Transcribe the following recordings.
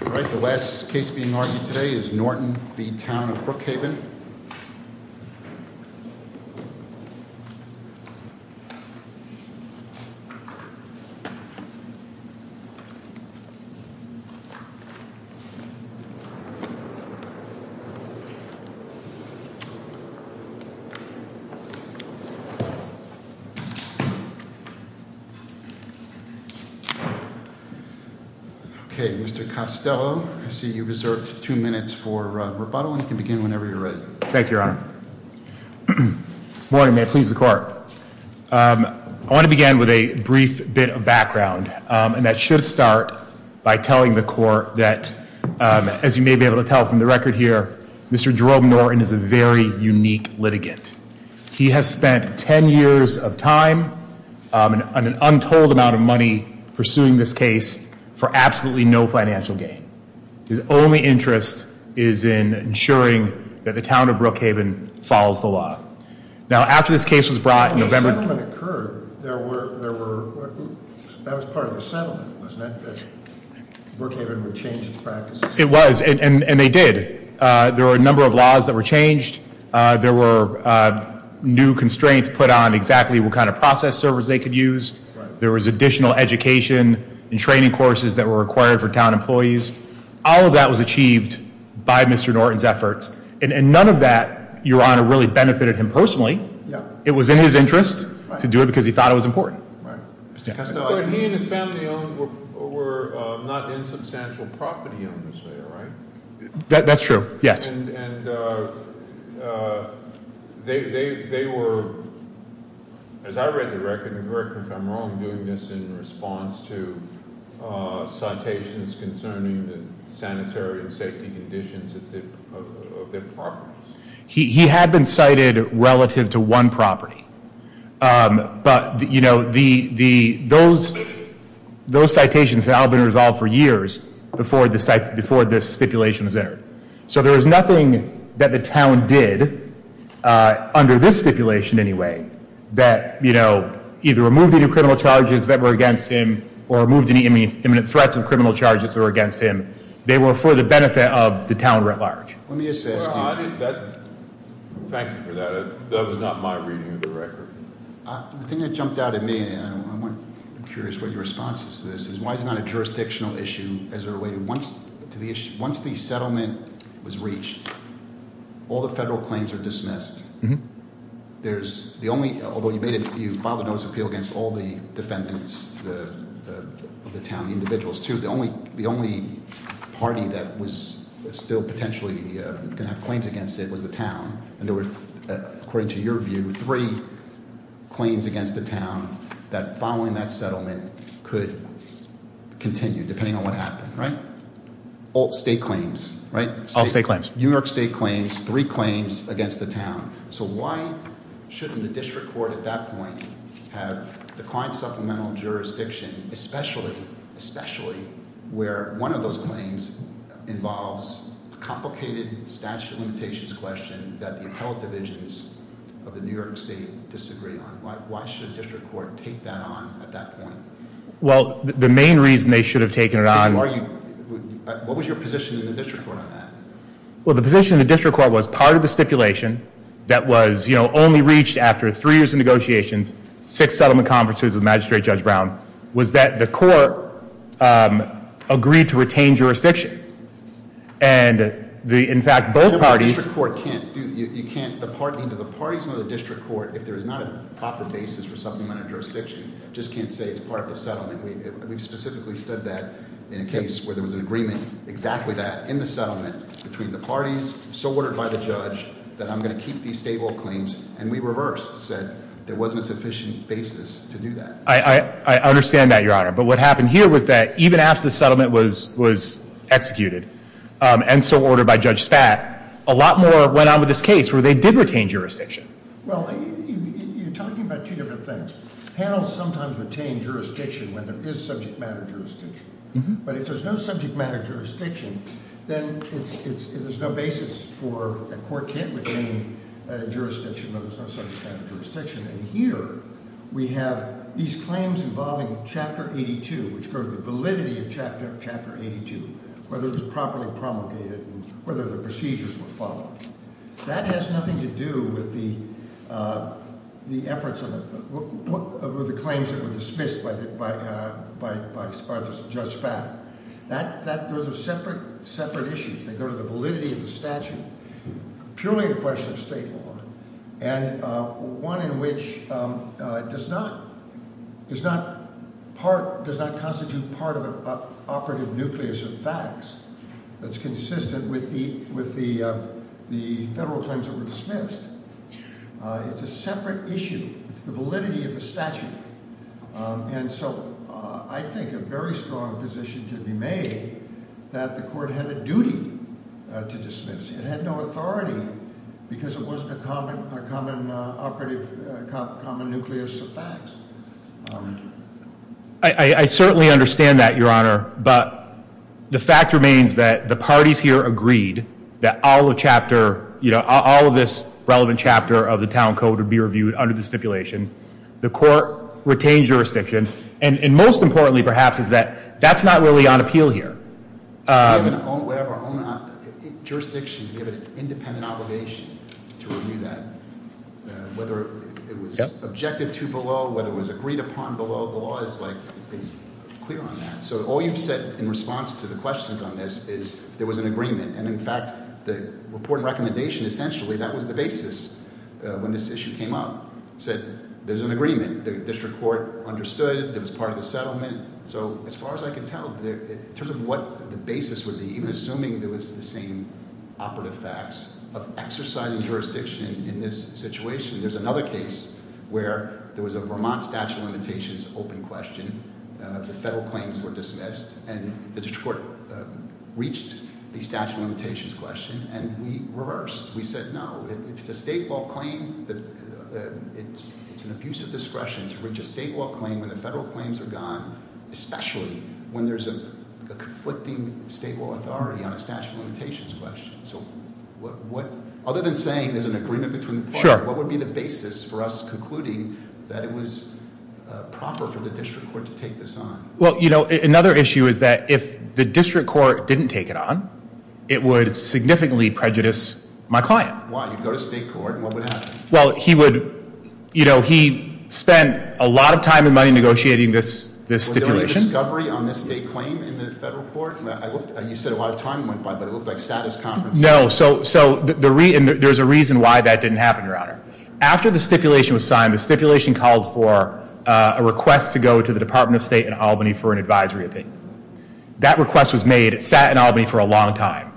The last case being argued today is Norton v. Town of Brookhaven. I see you've reserved two minutes for rebuttal and you can begin whenever you're ready. Thank you, Your Honor. Good morning. May it please the Court. I want to begin with a brief bit of background, and that should start by telling the Court that, as you may be able to tell from the record here, Mr. Jerome Norton is a very unique litigant. He has spent 10 years of time and an untold amount of money pursuing this case for absolutely no financial gain. His only interest is in ensuring that the Town of Brookhaven follows the law. Now, after this case was brought in November— When the settlement occurred, there were—that was part of the settlement, wasn't it, that Brookhaven would change its practices? It was, and they did. There were a number of laws that were changed. There were new constraints put on exactly what kind of process servers they could use. There was additional education and training courses that were required for town employees. All of that was achieved by Mr. Norton's efforts, and none of that, Your Honor, really benefited him personally. It was in his interest to do it because he thought it was important. But he and his family owned—were not insubstantial property owners there, right? That's true, yes. And they were, as I read the record, and correct me if I'm wrong, doing this in response to citations concerning the sanitary and safety conditions of their properties. He had been cited relative to one property. But, you know, those citations had all been resolved for years before this stipulation was entered. So there was nothing that the town did, under this stipulation anyway, that, you know, either removed any criminal charges that were against him or removed any imminent threats of criminal charges that were against him. They were for the benefit of the town writ large. Let me just ask you— Thank you for that. That was not my reading of the record. The thing that jumped out at me, and I'm curious what your response is to this, is why is it not a jurisdictional issue as it relates to the issue? Once the settlement was reached, all the federal claims are dismissed. There's the only—although you filed a notice of appeal against all the defendants of the town, the individuals, too. The only party that was still potentially going to have claims against it was the town. And there were, according to your view, three claims against the town that, following that settlement, could continue, depending on what happened, right? All state claims, right? All state claims. New York state claims, three claims against the town. So why shouldn't a district court at that point have the kind of supplemental jurisdiction, especially where one of those claims involves a complicated statute of limitations question that the appellate divisions of the New York state disagree on? Why should a district court take that on at that point? Well, the main reason they should have taken it on— What was your position in the district court on that? Well, the position of the district court was part of the stipulation that was only reached after three years of negotiations, six settlement conferences with Magistrate Judge Brown, was that the court agreed to retain jurisdiction. And, in fact, both parties— The district court can't do—you can't—the parties in the district court, if there is not a proper basis for supplemental jurisdiction, just can't say it's part of the settlement. We specifically said that in a case where there was an agreement, exactly that, in the settlement between the parties, so ordered by the judge, that I'm going to keep these statehold claims. And we reversed, said there wasn't a sufficient basis to do that. I understand that, Your Honor. But what happened here was that even after the settlement was executed and so ordered by Judge Spad, a lot more went on with this case where they did retain jurisdiction. Well, you're talking about two different things. Panels sometimes retain jurisdiction when there is subject matter jurisdiction. But if there's no subject matter jurisdiction, then there's no basis for—a court can't retain jurisdiction when there's no subject matter jurisdiction. And here we have these claims involving Chapter 82, which go to the validity of Chapter 82, whether it was properly promulgated and whether the procedures were followed. That has nothing to do with the efforts of the claims that were dismissed by Judge Spad. Those are separate issues. They go to the validity of the statute, purely a question of state law, and one in which does not constitute part of an operative nucleus of facts that's consistent with the federal claims that were dismissed. It's a separate issue. It's the validity of the statute. And so I think a very strong position could be made that the court had a duty to dismiss. It had no authority because it wasn't a common operative—a common nucleus of facts. I certainly understand that, Your Honor. But the fact remains that the parties here agreed that all the chapter—all of this relevant chapter of the town code would be reviewed under the stipulation. The court retained jurisdiction. And most importantly, perhaps, is that that's not really on appeal here. We have our own jurisdiction. We have an independent obligation to review that. Whether it was objected to below, whether it was agreed upon below, the law is clear on that. So all you've said in response to the questions on this is there was an agreement. And, in fact, the report and recommendation essentially—that was the basis when this issue came up—said there's an agreement. The district court understood it. It was part of the settlement. So as far as I can tell, in terms of what the basis would be, even assuming there was the same operative facts of exercising jurisdiction in this situation, there's another case where there was a Vermont statute of limitations open question. The federal claims were dismissed, and the district court reached the statute of limitations question, and we reversed. We said no. If the state law claim—it's an abuse of discretion to reach a state law claim when the federal claims are gone, especially when there's a conflicting state law authority on a statute of limitations question. Other than saying there's an agreement between the parties, what would be the basis for us concluding that it was proper for the district court to take this on? Well, another issue is that if the district court didn't take it on, it would significantly prejudice my client. Why? You'd go to state court, and what would happen? Well, he spent a lot of time and money negotiating this stipulation. Was there a discovery on this state claim in the federal court? You said a lot of time went by, but it looked like status conferences. No, so there's a reason why that didn't happen, Your Honor. After the stipulation was signed, the stipulation called for a request to go to the Department of State in Albany for an advisory opinion. That request was made. It sat in Albany for a long time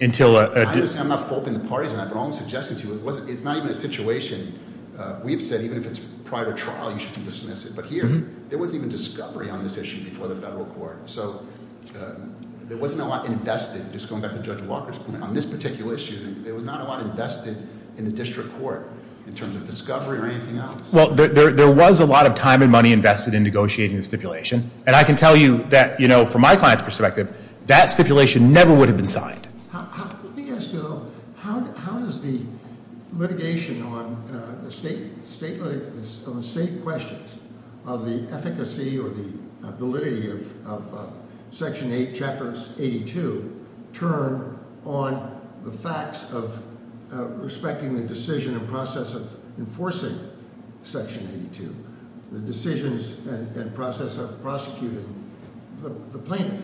until— I understand. I'm not faulting the parties on that, but I'm suggesting to you it's not even a situation. We have said even if it's prior to trial, you should dismiss it. But here, there wasn't even discovery on this issue before the federal court. So there wasn't a lot invested, just going back to Judge Walker's point, on this particular issue. There was not a lot invested in the district court in terms of discovery or anything else. Well, there was a lot of time and money invested in negotiating the stipulation. And I can tell you that from my client's perspective, that stipulation never would have been signed. Let me ask you, though, how does the litigation on the state questions of the efficacy or the validity of Section 8, Chapter 82, turn on the facts of respecting the decision and process of enforcing Section 82, the decisions and process of prosecuting the plaintiff?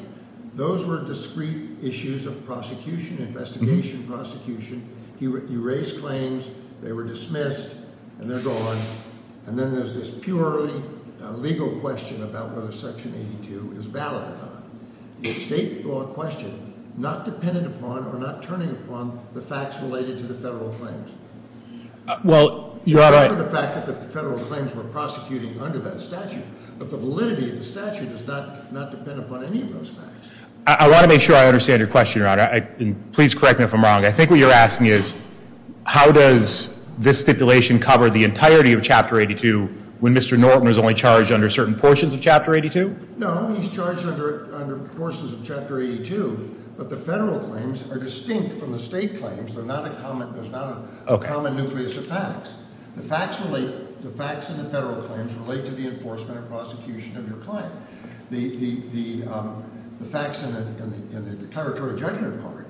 Those were discrete issues of prosecution, investigation, prosecution. You raise claims, they were dismissed, and they're gone. And then there's this purely legal question about whether Section 82 is valid or not. Is the state law question not dependent upon or not turning upon the facts related to the federal claims? Well, Your Honor— I want to make sure I understand your question, Your Honor, and please correct me if I'm wrong. I think what you're asking is, how does this stipulation cover the entirety of Chapter 82 when Mr. Norton was only charged under certain portions of Chapter 82? No, he's charged under portions of Chapter 82, but the federal claims are distinct from the state claims. There's not a common nucleus of facts. The facts in the federal claims relate to the enforcement or prosecution of your claim. The facts in the territory judgment part,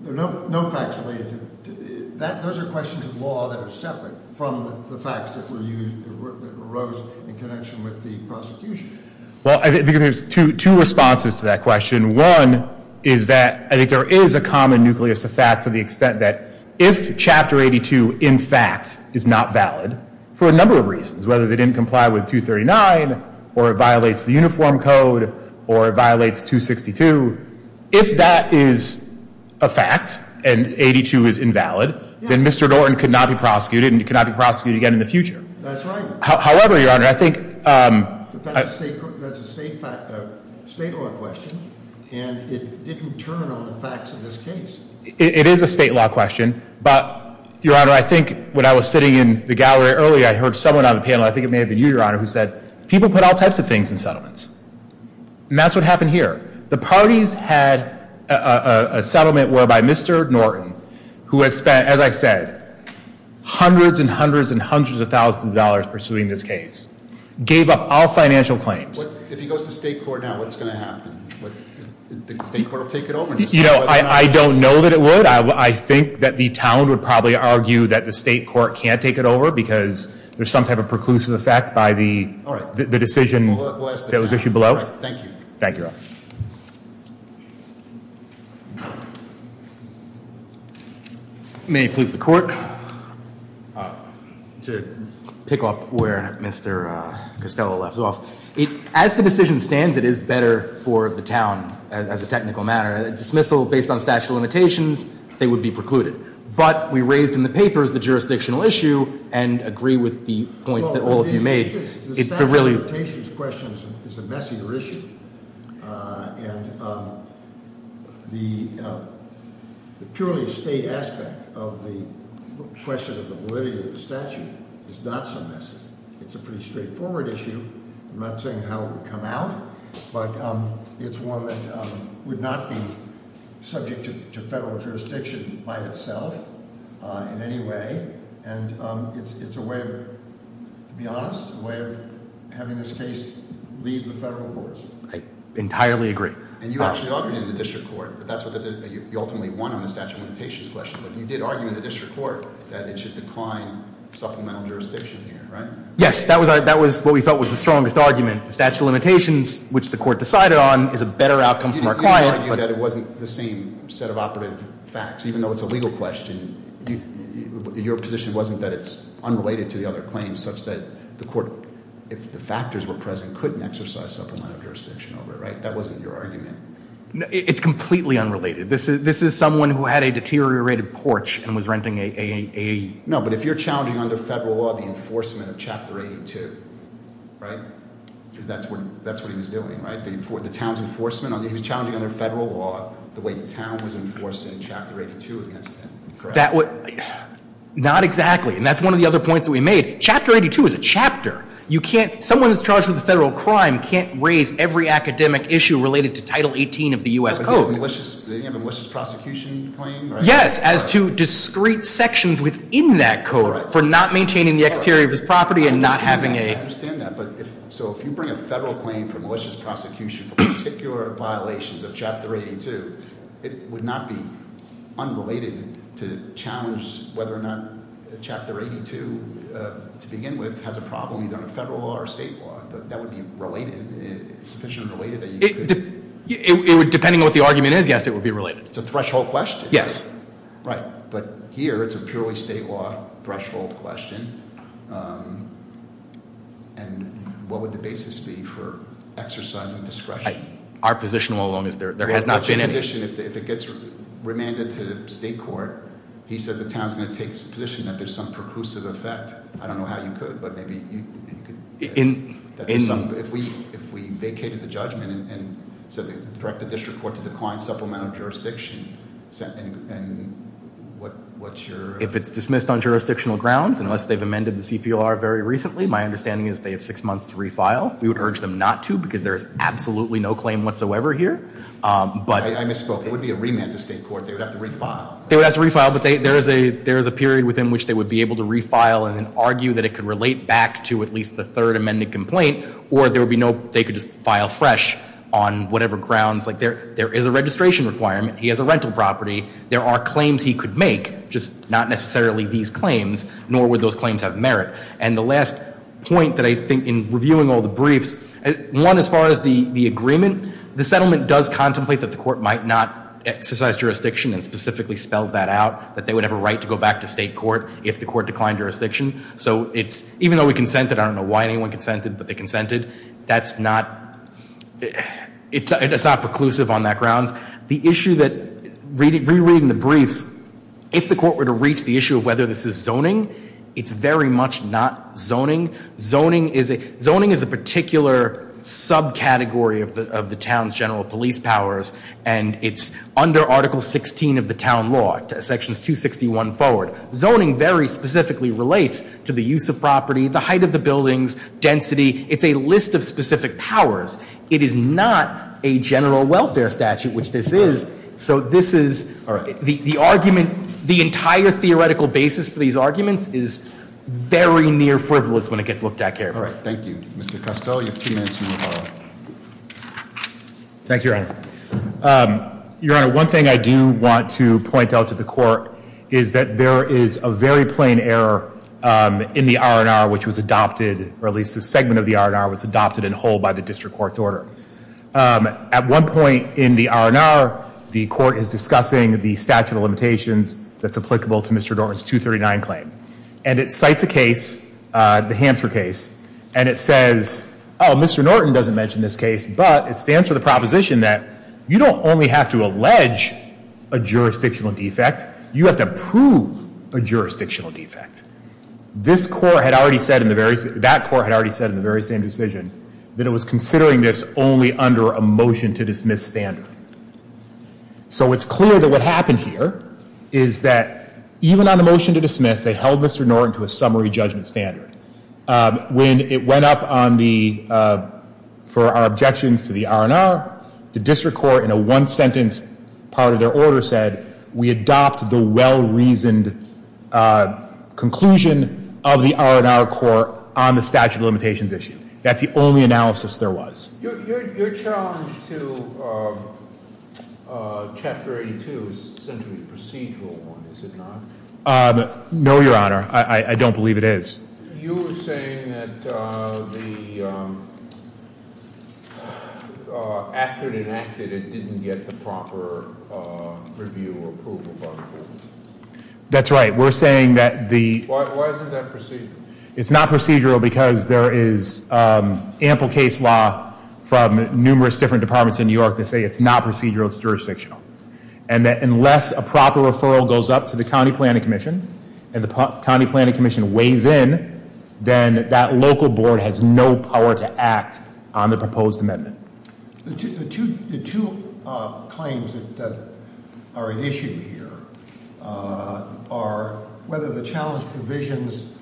there are no facts related to it. Those are questions of law that are separate from the facts that arose in connection with the prosecution. Well, I think there's two responses to that question. One is that I think there is a common nucleus of facts to the extent that if Chapter 82, in fact, is not valid for a number of reasons, whether they didn't comply with 239 or it violates the Uniform Code or it violates 262, if that is a fact and 82 is invalid, then Mr. Norton could not be prosecuted and he could not be prosecuted again in the future. That's right. However, Your Honor, I think— But that's a state law question, and it didn't turn on the facts of this case. It is a state law question, but, Your Honor, I think when I was sitting in the gallery earlier, I heard someone on the panel, I think it may have been you, Your Honor, who said people put all types of things in settlements. And that's what happened here. The parties had a settlement whereby Mr. Norton, who has spent, as I said, hundreds and hundreds and hundreds of thousands of dollars pursuing this case, gave up all financial claims. If he goes to state court now, what's going to happen? The state court will take it over? You know, I don't know that it would. I think that the town would probably argue that the state court can't take it over because there's some type of preclusive effect by the decision that was issued below. All right. Thank you. Thank you, Your Honor. May it please the Court. To pick up where Mr. Costello left off, as the decision stands, it is better for the town as a technical matter. A dismissal based on statute of limitations, they would be precluded. But we raised in the papers the jurisdictional issue and agree with the points that all of you made. The statute of limitations question is a messier issue. And the purely state aspect of the question of the validity of the statute is not so messy. It's a pretty straightforward issue. I'm not saying how it would come out. But it's one that would not be subject to federal jurisdiction by itself in any way. And it's a way of, to be honest, a way of having this case leave the federal courts. I entirely agree. And you actually argued in the district court. You ultimately won on the statute of limitations question. But you did argue in the district court that it should decline supplemental jurisdiction here, right? Yes. That was what we felt was the strongest argument. The statute of limitations, which the court decided on, is a better outcome for our client. You did argue that it wasn't the same set of operative facts. Even though it's a legal question, your position wasn't that it's unrelated to the other claims such that the court, if the factors were present, couldn't exercise supplemental jurisdiction over it, right? That wasn't your argument. It's completely unrelated. This is someone who had a deteriorated porch and was renting a AAE. No, but if you're challenging under federal law the enforcement of Chapter 82, right? Because that's what he was doing, right? He was challenging under federal law the way the town was enforced in Chapter 82 against him, correct? Not exactly. And that's one of the other points that we made. Chapter 82 is a chapter. Someone who's charged with a federal crime can't raise every academic issue related to Title 18 of the U.S. Code. They didn't have a malicious prosecution claim, right? Yes, as to discrete sections within that code for not maintaining the exterior of his property and not having a- I understand that. So if you bring a federal claim for malicious prosecution for particular violations of Chapter 82, it would not be unrelated to challenge whether or not Chapter 82, to begin with, has a problem either under federal law or state law. That would be related, sufficiently related that you could- Depending on what the argument is, yes, it would be related. It's a threshold question. Yes. Right. But here it's a purely state law threshold question. And what would the basis be for exercising discretion? Our position all along is there has not been any- If it gets remanded to state court, he said the town's going to take a position that there's some percussive effect. I don't know how you could, but maybe you could- In- What's your- If it's dismissed on jurisdictional grounds, unless they've amended the CPR very recently, my understanding is they have six months to refile. We would urge them not to because there is absolutely no claim whatsoever here. But- I misspoke. It would be a remand to state court. They would have to refile. They would have to refile, but there is a period within which they would be able to refile and argue that it could relate back to at least the third amended complaint. Or there would be no- They could just file fresh on whatever grounds. There is a registration requirement. He has a rental property. There are claims he could make, just not necessarily these claims, nor would those claims have merit. And the last point that I think in reviewing all the briefs, one, as far as the agreement, the settlement does contemplate that the court might not exercise jurisdiction and specifically spells that out, that they would have a right to go back to state court if the court declined jurisdiction. So it's- Even though we consented, I don't know why anyone consented, but they consented. That's not- It's not preclusive on that grounds. The issue that, rereading the briefs, if the court were to reach the issue of whether this is zoning, it's very much not zoning. Zoning is a particular subcategory of the town's general police powers, and it's under Article 16 of the town law, Sections 261 forward. Zoning very specifically relates to the use of property, the height of the buildings, density. It's a list of specific powers. It is not a general welfare statute, which this is. So this is- All right. The argument, the entire theoretical basis for these arguments is very near frivolous when it gets looked at carefully. All right. Thank you. Mr. Costello, you have two minutes. Thank you, Your Honor. Your Honor, one thing I do want to point out to the court is that there is a very plain error in the R&R, which was adopted, or at least a segment of the R&R was adopted in whole by the district court's order. At one point in the R&R, the court is discussing the statute of limitations that's applicable to Mr. Norton's 239 claim, and it cites a case, the Hampshire case, and it says, oh, Mr. Norton doesn't mention this case, but it stands for the proposition that you don't only have to allege a jurisdictional defect, you have to prove a jurisdictional defect. This court had already said in the very- That court had already said in the very same decision that it was considering this only under a motion to dismiss standard. So it's clear that what happened here is that even on the motion to dismiss, they held Mr. Norton to a summary judgment standard. When it went up on the- for our objections to the R&R, the district court in a one-sentence part of their order said, we adopt the well-reasoned conclusion of the R&R court on the statute of limitations issue. That's the only analysis there was. Your challenge to Chapter 82 is essentially a procedural one, is it not? No, Your Honor. I don't believe it is. You were saying that after it enacted, it didn't get the proper review or approval by the court. That's right. We're saying that the- Why isn't that procedural? It's not procedural because there is ample case law from numerous different departments in New York that say it's not procedural, it's jurisdictional. And that unless a proper referral goes up to the county planning commission, and the county planning commission weighs in, then that local board has no power to act on the proposed amendment. The two claims that are at issue here are whether the challenge provisions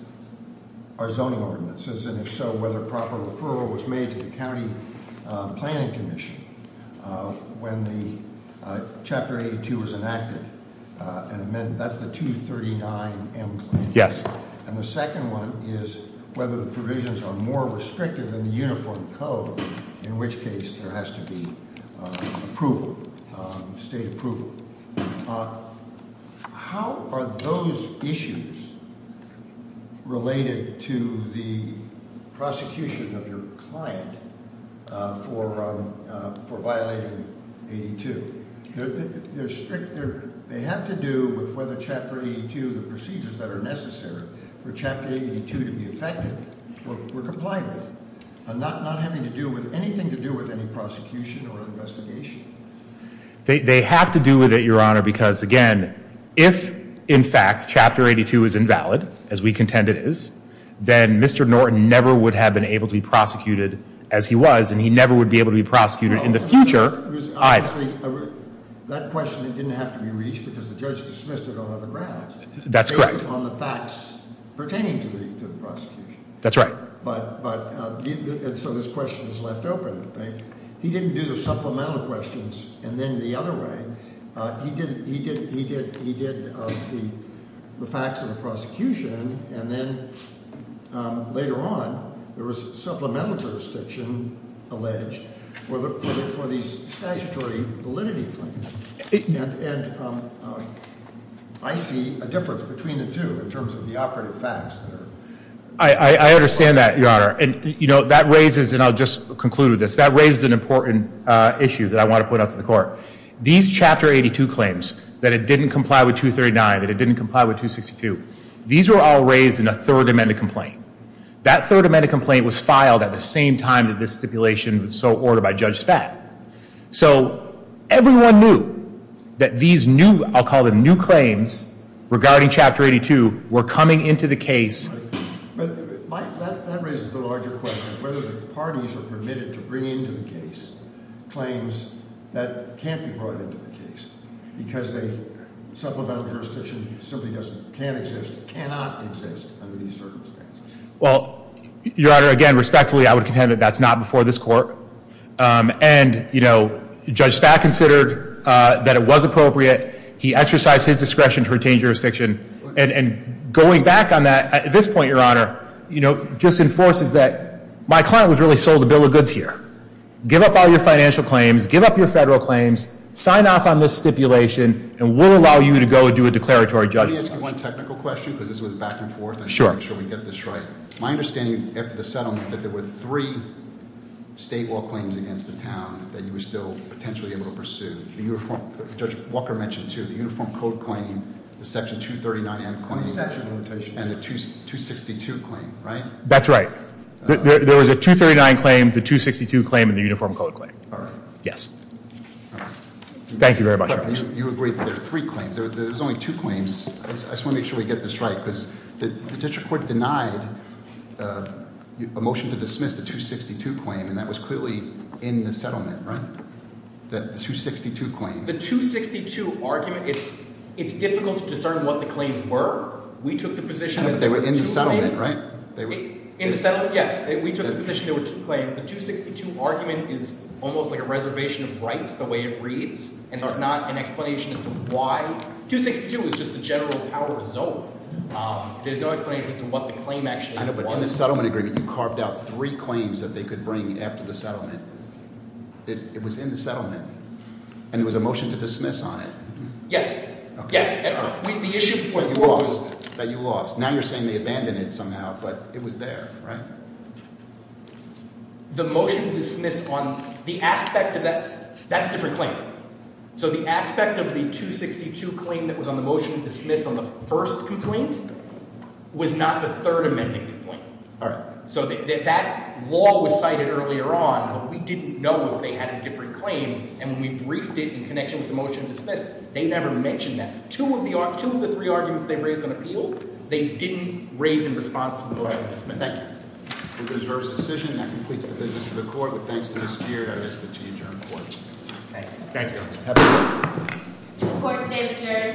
are zoning ordinances, and if so, whether proper referral was made to the county planning commission. When the Chapter 82 was enacted, that's the 239M claim. Yes. And the second one is whether the provisions are more restrictive in the uniform code, in which case there has to be approval, state approval. How are those issues related to the prosecution of your client for violating 82? They have to do with whether Chapter 82, the procedures that are necessary for Chapter 82 to be effective, we're complying with. I'm not having anything to do with any prosecution or investigation. They have to do with it, Your Honor, because again, if in fact Chapter 82 is invalid, as we contend it is, then Mr. Norton never would have been able to be prosecuted as he was, and he never would be able to be prosecuted in the future either. That question didn't have to be reached because the judge dismissed it on other grounds. That's correct. On the facts pertaining to the prosecution. That's right. So this question is left open, I think. He didn't do the supplemental questions and then the other way. He did the facts of the prosecution and then later on there was supplemental jurisdiction alleged for these statutory validity claims. And I see a difference between the two in terms of the operative facts. I understand that, Your Honor. And that raises, and I'll just conclude with this, that raises an important issue that I want to put out to the court. These Chapter 82 claims, that it didn't comply with 239, that it didn't comply with 262. These were all raised in a third amended complaint. That third amended complaint was filed at the same time that this stipulation was so ordered by Judge Spad. So everyone knew that these new, I'll call them new claims, regarding Chapter 82 were coming into the case. But Mike, that raises the larger question. Whether the parties are permitted to bring into the case claims that can't be brought into the case. Because supplemental jurisdiction simply can't exist, cannot exist under these circumstances. Well, Your Honor, again, respectfully, I would contend that that's not before this court. And Judge Spad considered that it was appropriate. He exercised his discretion to retain jurisdiction. And going back on that, at this point, Your Honor, just enforces that my client was really sold a bill of goods here. Give up all your financial claims. Give up your federal claims. Sign off on this stipulation. And we'll allow you to go do a declaratory judgment. Let me ask you one technical question, because this was back and forth. Sure. I want to make sure we get this right. My understanding, after the settlement, that there were three state law claims against the town that you were still potentially able to pursue. Judge Walker mentioned, too, the Uniform Code claim, the Section 239M claim, and the 262 claim, right? That's right. There was a 239 claim, the 262 claim, and the Uniform Code claim. All right. Yes. Thank you very much. You agree that there are three claims. There's only two claims. I just want to make sure we get this right. Because the district court denied a motion to dismiss the 262 claim. And that was clearly in the settlement, right? The 262 claim. The 262 argument, it's difficult to discern what the claims were. We took the position that there were two claims. But they were in the settlement, right? In the settlement, yes. We took the position there were two claims. The 262 argument is almost like a reservation of rights the way it reads. And it's not an explanation as to why. 262 is just the general power zone. There's no explanation as to what the claim actually was. It was in the settlement. And there was a motion to dismiss on it. Yes. Yes. The issue was that you lost. Now you're saying they abandoned it somehow. But it was there, right? The motion to dismiss on the aspect of that, that's a different claim. So the aspect of the 262 claim that was on the motion to dismiss on the first complaint was not the third amending complaint. All right. So that law was cited earlier on. But we didn't know if they had a different claim. And when we briefed it in connection with the motion to dismiss, they never mentioned that. Two of the three arguments they've raised on appeal, they didn't raise in response to the motion to dismiss. All right. Thank you. It deserves a decision. That completes the business of the court. But thanks to the spirit, I ask that you adjourn court. Thank you. Thank you. Have a good day. Court is adjourned.